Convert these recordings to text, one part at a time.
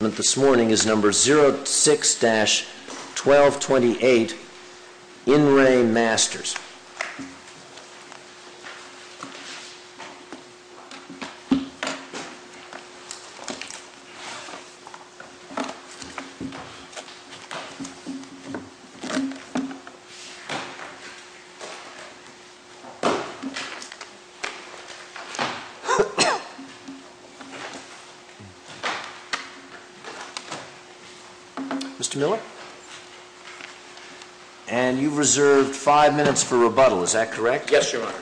This morning is number 06-1228 In Re Masters Mr. Miller, and you've reserved five minutes for rebuttal, is that correct? Yes, Your Honor.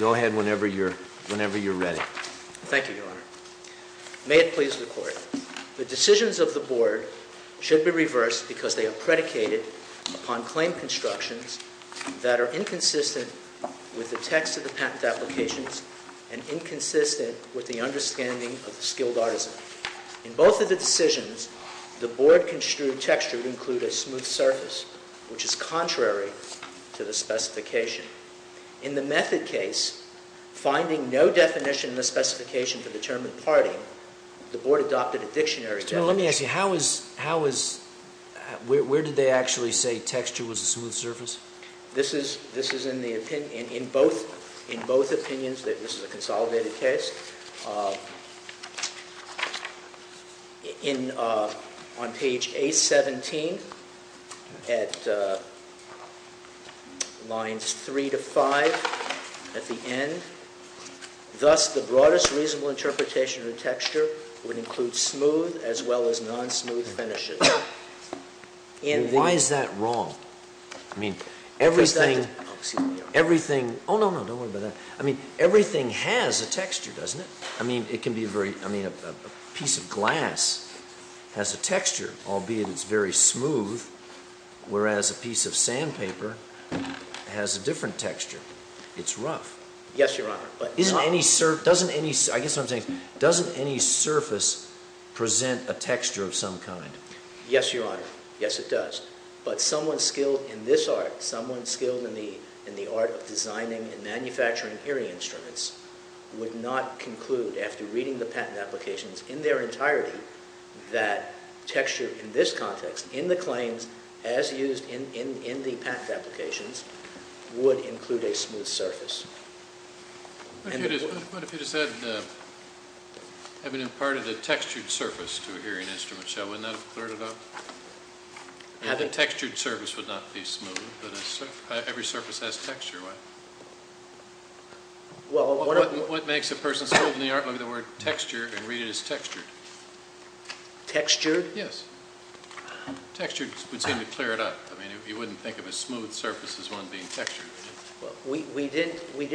Go ahead whenever you're ready. Thank you, Your Honor. May it please the Court. The decisions of the Board should be reversed because they are predicated upon claim constructions that are inconsistent with the text of the patent applications and inconsistent with the understanding of the skilled artisan. In both of the decisions, the Board construed texture to include a smooth surface, which is contrary to the specification. In the method case, finding no definition in the specification to determine parting, the Board adopted a dictionary definition. Your Honor, let me ask you, where did they actually say texture was a smooth surface? This is in both opinions. This is a consolidated case. On page A-17 at lines 3 to 5 at the end, thus the broadest reasonable interpretation of texture would include smooth as well as non-smooth finishes. Why is that wrong? Everything has a texture, doesn't it? A piece of glass has a texture, albeit it's very smooth, whereas a piece of sandpaper has a different texture. It's rough. Yes, Your Honor. I guess what I'm saying is, doesn't any surface present a texture of some kind? Yes, Your Honor. Yes, it does. But someone skilled in this art, someone skilled in the art of designing and manufacturing hearing instruments, would not conclude, after reading the patent applications in their entirety, that texture in this context, in the claims as used in the patent applications, would include a smooth surface. What if you just said, having imparted a textured surface to a hearing instrument, wouldn't that have cleared it up? The textured surface would not be smooth, but every surface has texture, right? What makes a person skilled in the art of the word texture and read it as textured? Textured? Yes. Textured would seem to clear it up. You wouldn't think of a smooth surface as one being textured, would you?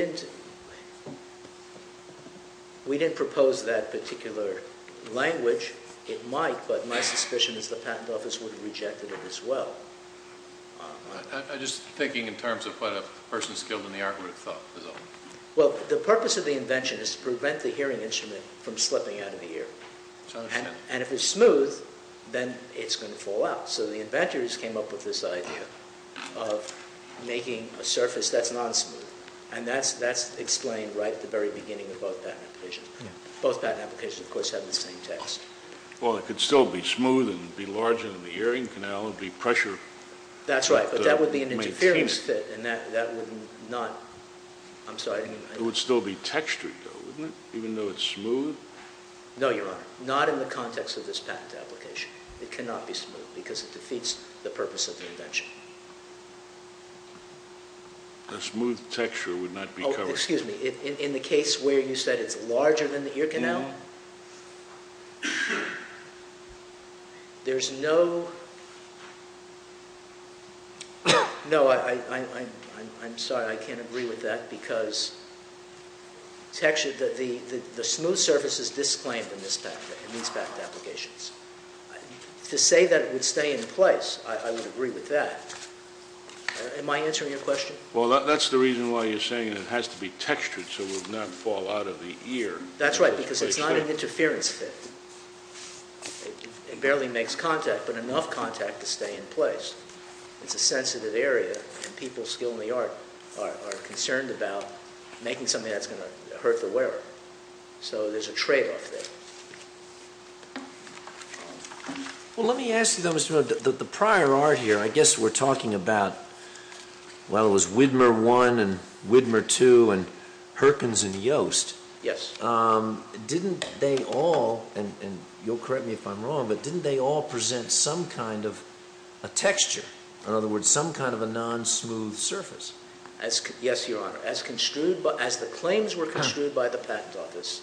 We didn't propose that particular language. It might, but my suspicion is the patent office would have rejected it as well. I'm just thinking in terms of what a person skilled in the art would have thought. The purpose of the invention is to prevent the hearing instrument from slipping out of the ear. And if it's smooth, then it's going to fall out. So the inventors came up with this idea of making a surface that's non-smooth, and that's explained right at the very beginning of both patent applications. Both patent applications, of course, have the same text. Well, it could still be smooth and be large enough in the hearing canal and be pressure. That's right, but that would be an interference fit, and that would not... I'm sorry. It would still be textured, though, wouldn't it? Even though it's smooth? No, Your Honor, not in the context of this patent application. It cannot be smooth because it defeats the purpose of the invention. A smooth texture would not be covered... Oh, excuse me. In the case where you said it's larger than the ear canal, there's no... No, I'm sorry. I can't agree with that because the smooth surface is disclaimed in these patent applications. To say that it would stay in place, I would agree with that. Am I answering your question? Well, that's the reason why you're saying it has to be textured so it would not fall out of the ear. That's right, because it's not an interference fit. It barely makes contact, but enough contact to stay in place. It's a sensitive area, and people skilled in the art are concerned about making something that's going to hurt the wearer. So there's a trade-off there. Well, let me ask you, though, Mr. Miller, the prior art here, I guess we're talking about... Well, it was Widmer I and Widmer II and Perkins and Yost. Yes. Didn't they all, and you'll correct me if I'm wrong, but didn't they all present some kind of a texture? In other words, some kind of a non-smooth surface? Yes, Your Honor. As the claims were construed by the Patent Office,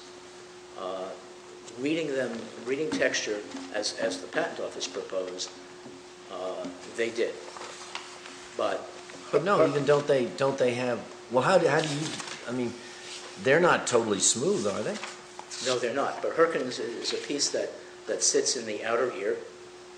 reading texture as the Patent Office proposed, they did. But no, even don't they have... well, how do you... I mean, they're not totally smooth, are they? No, they're not, but Perkins is a piece that sits in the outer ear.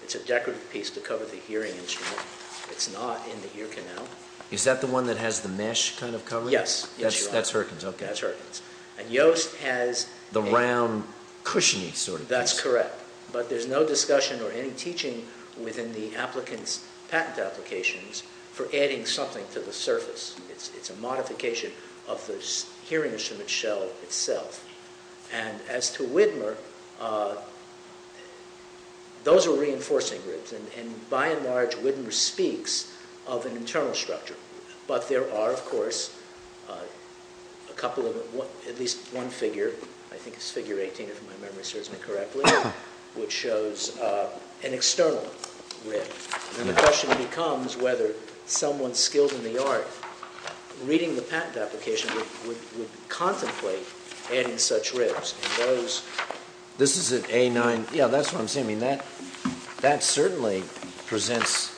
It's a decorative piece to cover the hearing instrument. It's not in the ear canal. Is that the one that has the mesh kind of covering? Yes, Your Honor. That's Perkins, okay. That's Perkins. And Yost has... The round, cushiony sort of piece. That's correct. But there's no discussion or any teaching within the applicant's patent applications for adding something to the surface. It's a modification of the hearing instrument shell itself. And as to Widmer, those are reinforcing groups. And by and large, Widmer speaks of an internal structure. But there are, of course, at least one figure, I think it's figure 18 if my memory serves me correctly, which shows an external rib. And the question becomes whether someone skilled in the art reading the patent application would contemplate adding such ribs. This is at A9... Yeah, that's what I'm saying. I mean, that certainly presents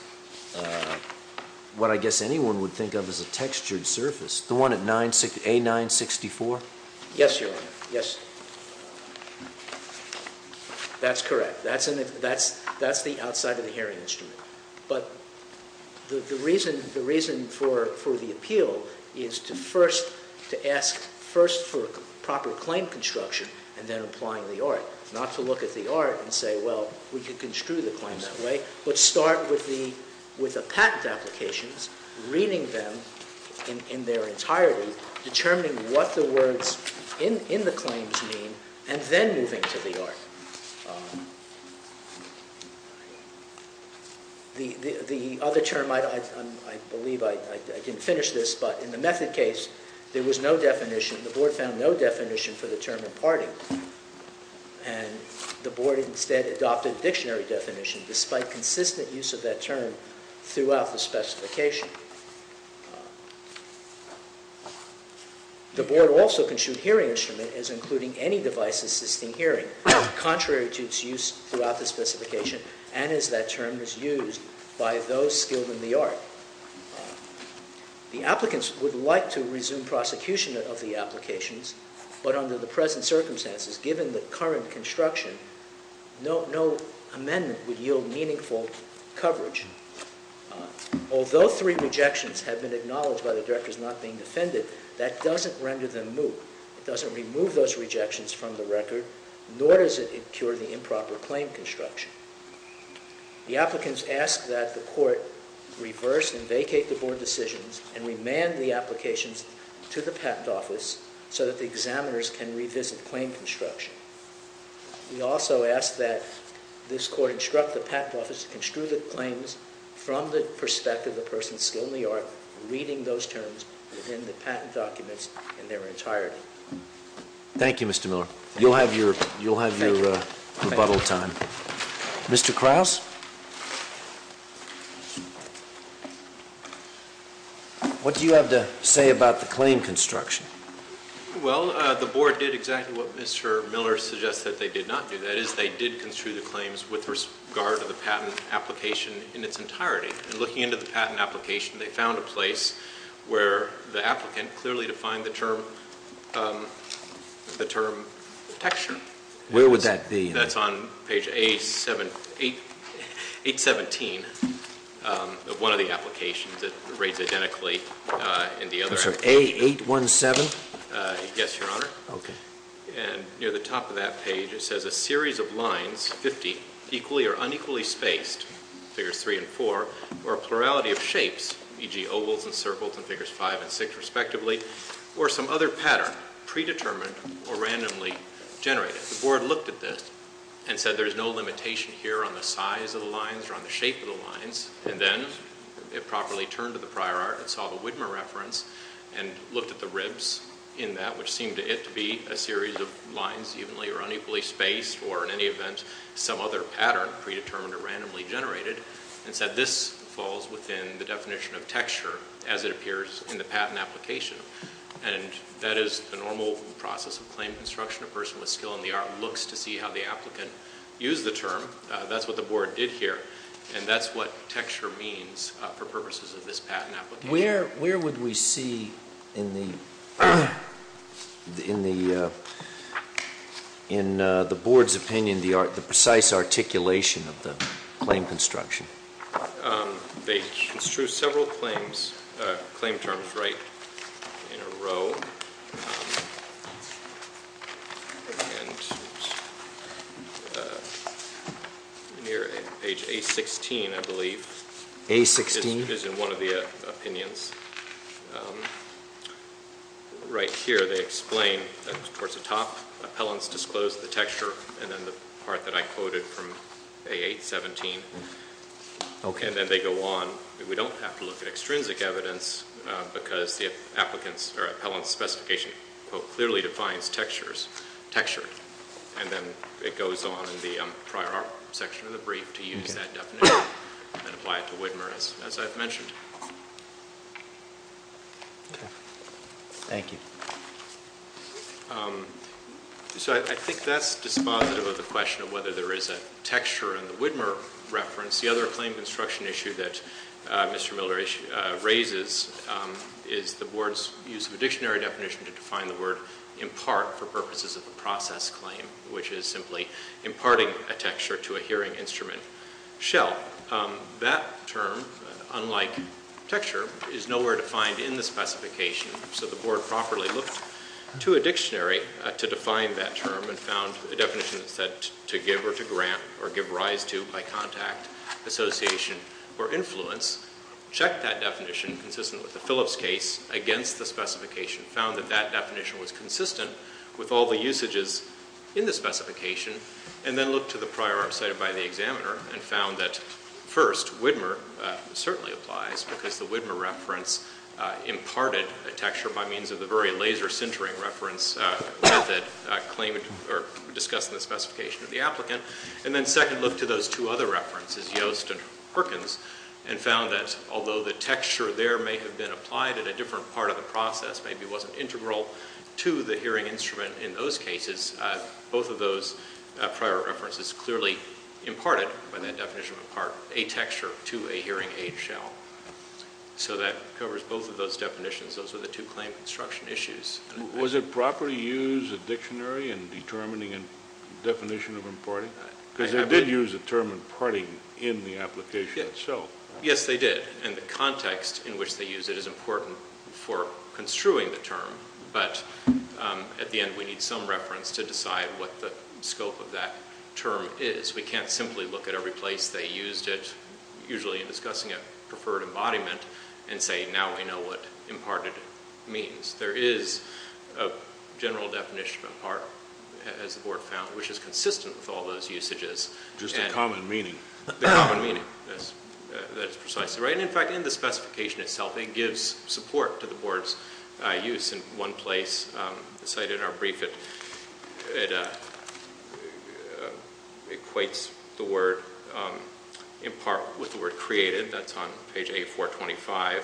what I guess anyone would think of as a textured surface. The one at A9-64? Yes, Your Honor. Yes. That's correct. That's the outside of the hearing instrument. But the reason for the appeal is to ask first for proper claim construction and then applying the art. Not to look at the art and say, well, we could construe the claim that way. But start with the patent applications, reading them in their entirety, determining what the words in the claims mean, and then moving to the art. The other term, I believe, I didn't finish this, but in the method case, there was no definition. The Board found no definition for the term imparting. And the Board instead adopted a dictionary definition, despite consistent use of that term throughout the specification. The Board also construed hearing instrument as including any device assisting hearing, contrary to its use throughout the specification and as that term is used by those skilled in the art. The applicants would like to resume prosecution of the applications, but under the present circumstances, given the current construction, no amendment would yield meaningful coverage. Although three rejections have been acknowledged by the directors not being defended, that doesn't render them moot. It doesn't remove those rejections from the record, nor does it incur the improper claim construction. The applicants ask that the Court reverse and vacate the Board decisions and remand the applications to the Patent Office so that the examiners can revisit claim construction. We also ask that this Court instruct the Patent Office to construe the claims from the perspective of the person skilled in the art, reading those terms within the patent documents in their entirety. Thank you, Mr. Miller. You'll have your rebuttal time. Mr. Krause? What do you have to say about the claim construction? Well, the Board did exactly what Mr. Miller suggests that they did not do. That is, they did construe the claims with regard to the patent application in its entirety. And looking into the patent application, they found a place where the applicant clearly defined the term texture. Where would that be? That's on page 817 of one of the applications. It reads identically in the other. I'm sorry, A817? Yes, Your Honor. Okay. And near the top of that page, it says a series of lines, 50, equally or unequally spaced, figures 3 and 4, or a plurality of shapes, e.g. ovals and circles and figures 5 and 6 respectively, or some other pattern, predetermined or randomly generated. The Board looked at this and said there's no limitation here on the size of the lines or on the shape of the lines. And then it properly turned to the prior art and saw the Widmer reference and looked at the ribs in that, which seemed to it to be a series of lines evenly or unequally spaced or, in any event, some other pattern, predetermined or randomly generated, and said this falls within the definition of texture as it appears in the patent application. And that is the normal process of claim construction. A person with skill in the art looks to see how the applicant used the term. That's what the Board did here, and that's what texture means for purposes of this patent application. Where would we see in the Board's opinion the precise articulation of the claim construction? They construe several claim terms right in a row, and near page A-16, I believe, is in one of the opinions. Right here they explain towards the top, appellants disclose the texture, and then the part that I quoted from A-8-17. And then they go on. We don't have to look at extrinsic evidence because the appellant's specification clearly defines textured. And then it goes on in the prior section of the brief to use that definition and apply it to Widmer, as I've mentioned. Thank you. So I think that's dispositive of the question of whether there is a texture in the Widmer reference. The other claim construction issue that Mr. Miller raises is the Board's use of a dictionary definition to define the word impart for purposes of the process claim, which is simply imparting a texture to a hearing instrument shell. That term, unlike texture, is nowhere defined in the specification. So the Board properly looked to a dictionary to define that term and found a definition that said to give or to grant or give rise to by contact, association, or influence, checked that definition consistent with the Phillips case against the specification, found that that definition was consistent with all the usages in the specification, and then looked to the prior art cited by the examiner and found that, first, Widmer certainly applies because the Widmer reference imparted a texture by means of the very laser-centering reference that discussed in the specification of the applicant. And then second, looked to those two other references, Yost and Perkins, and found that although the texture there may have been applied at a different part of the process, maybe it wasn't integral to the hearing instrument in those cases, both of those prior references clearly imparted by that definition of impart a texture to a hearing aid shell. So that covers both of those definitions. Those are the two claim construction issues. Was it proper to use a dictionary in determining a definition of imparting? Because they did use the term imparting in the application itself. Yes, they did, and the context in which they used it is important for construing the term, but at the end we need some reference to decide what the scope of that term is. We can't simply look at every place they used it, usually in discussing a preferred embodiment, and say now we know what imparted means. There is a general definition of impart, as the board found, which is consistent with all those usages. Just in common meaning. In common meaning, yes. That's precisely right. In fact, in the specification itself, it gives support to the board's use. In one place, cited in our brief, it equates the word impart with the word created. That's on page A425,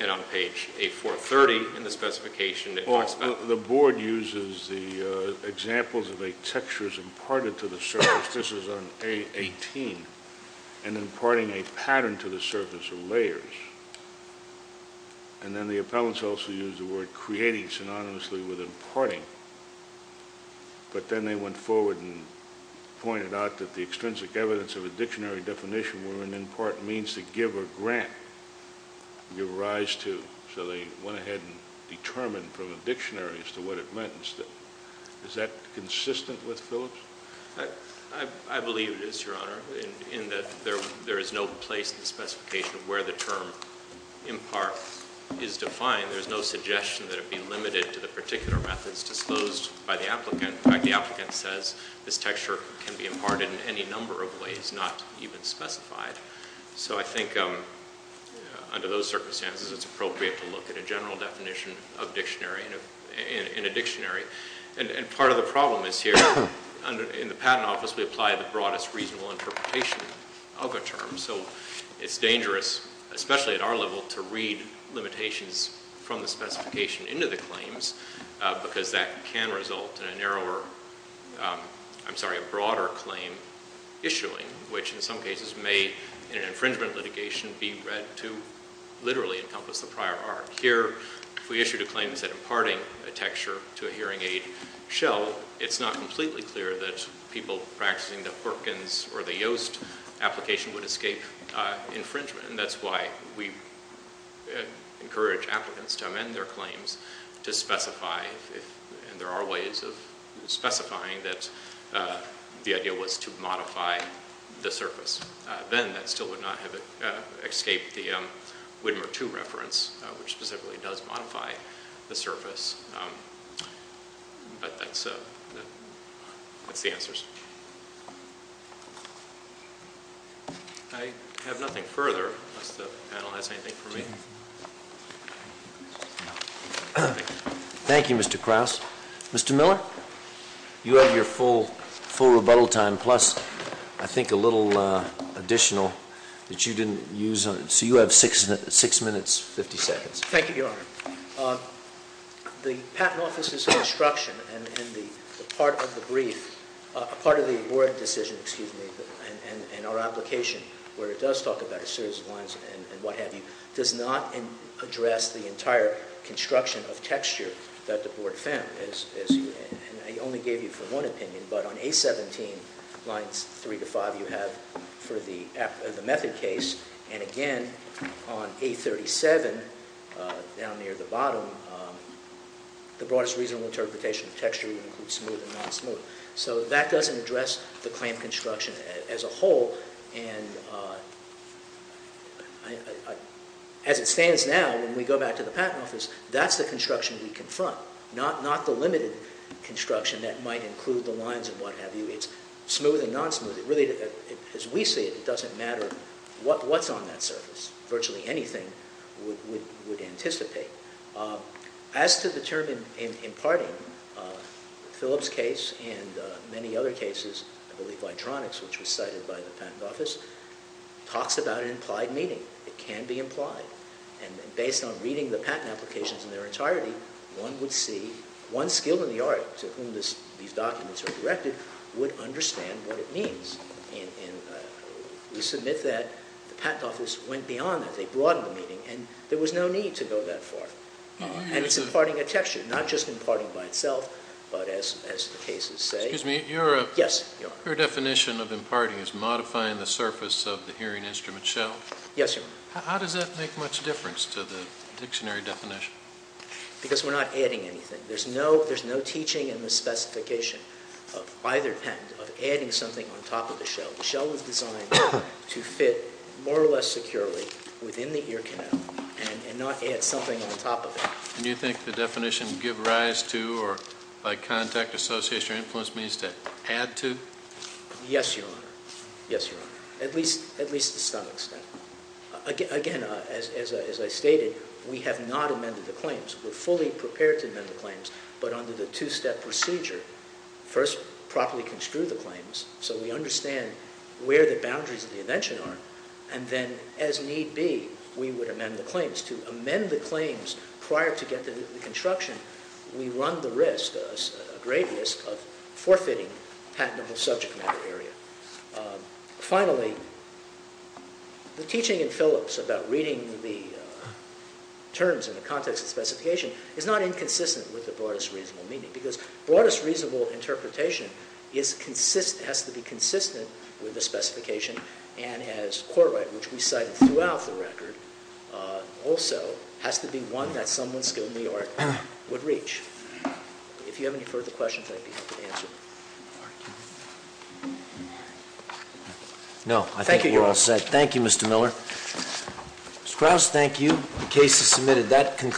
and on page A430 in the specification. The board uses the examples of textures imparted to the surface. Perhaps this is on A18, and imparting a pattern to the surface of layers. And then the appellants also used the word creating synonymously with imparting. But then they went forward and pointed out that the extrinsic evidence of a dictionary definition wherein impart means to give a grant, give rise to. So they went ahead and determined from a dictionary as to what it meant. Is that consistent with Phillips? I believe it is, Your Honor, in that there is no place in the specification of where the term impart is defined. There's no suggestion that it be limited to the particular methods disclosed by the applicant. In fact, the applicant says this texture can be imparted in any number of ways, not even specified. So I think under those circumstances, it's appropriate to look at a general definition of dictionary in a dictionary. And part of the problem is here in the Patent Office, we apply the broadest reasonable interpretation of a term. So it's dangerous, especially at our level, to read limitations from the specification into the claims because that can result in a narrower, I'm sorry, a broader claim issuing, which in some cases may, in an infringement litigation, be read to literally encompass the prior art. Here, if we issued a claim that said imparting a texture to a hearing aid shell, it's not completely clear that people practicing the Perkins or the Yoast application would escape infringement. And that's why we encourage applicants to amend their claims to specify, and there are ways of specifying that the idea was to modify the surface. Then that still would not have escaped the Widmer II reference, which specifically does modify the surface. But that's the answers. I have nothing further, unless the panel has anything for me. Thank you, Mr. Krauss. Mr. Miller, you have your full rebuttal time, plus I think a little additional that you didn't use. So you have six minutes, 50 seconds. Thank you, Your Honor. The Patent Office's construction and the part of the brief, part of the board decision, excuse me, and our application, where it does talk about a series of lines and what have you, does not address the entire construction of texture that the board found. And I only gave you for one opinion, but on A17, lines 3 to 5, you have for the method case. And again, on A37, down near the bottom, the broadest reasonable interpretation of texture includes smooth and non-smooth. So that doesn't address the clamp construction as a whole. And as it stands now, when we go back to the Patent Office, that's the construction we confront, not the limited construction that might include the lines and what have you. It's smooth and non-smooth. Really, as we see it, it doesn't matter what's on that surface. Virtually anything would anticipate. As to the term imparting, Phillip's case and many other cases, I believe Vitronics, which was cited by the Patent Office, talks about an implied meaning. It can be implied. And based on reading the patent applications in their entirety, one would see, one skill in the art to whom these documents are directed would understand what it means. And we submit that the Patent Office went beyond that. And there was no need to go that far. And it's imparting a texture, not just imparting by itself, but as the cases say. Excuse me. Yes, Your Honor. Your definition of imparting is modifying the surface of the hearing instrument shell. Yes, Your Honor. How does that make much difference to the dictionary definition? Because we're not adding anything. There's no teaching in the specification of either patent of adding something on top of the shell. The shell is designed to fit more or less securely within the ear canal and not add something on top of it. And you think the definition give rise to or by contact associates or influence means to add to? Yes, Your Honor. Yes, Your Honor. At least to some extent. Again, as I stated, we have not amended the claims. We're fully prepared to amend the claims. But under the two-step procedure, first properly construe the claims so we understand where the boundaries of the invention are. And then, as need be, we would amend the claims. To amend the claims prior to get to the construction, we run the risk, a great risk, of forfeiting patentable subject matter area. Finally, the teaching in Phillips about reading the terms in the context of specification is not inconsistent with the broadest reasonable meaning. Because broadest reasonable interpretation has to be consistent with the specification. And as Courtright, which we cited throughout the record, also has to be one that someone skilled in the art would reach. If you have any further questions, I'd be happy to answer. No, I think we're all set. Thank you, Mr. Miller. Ms. Krause, thank you. The case is submitted.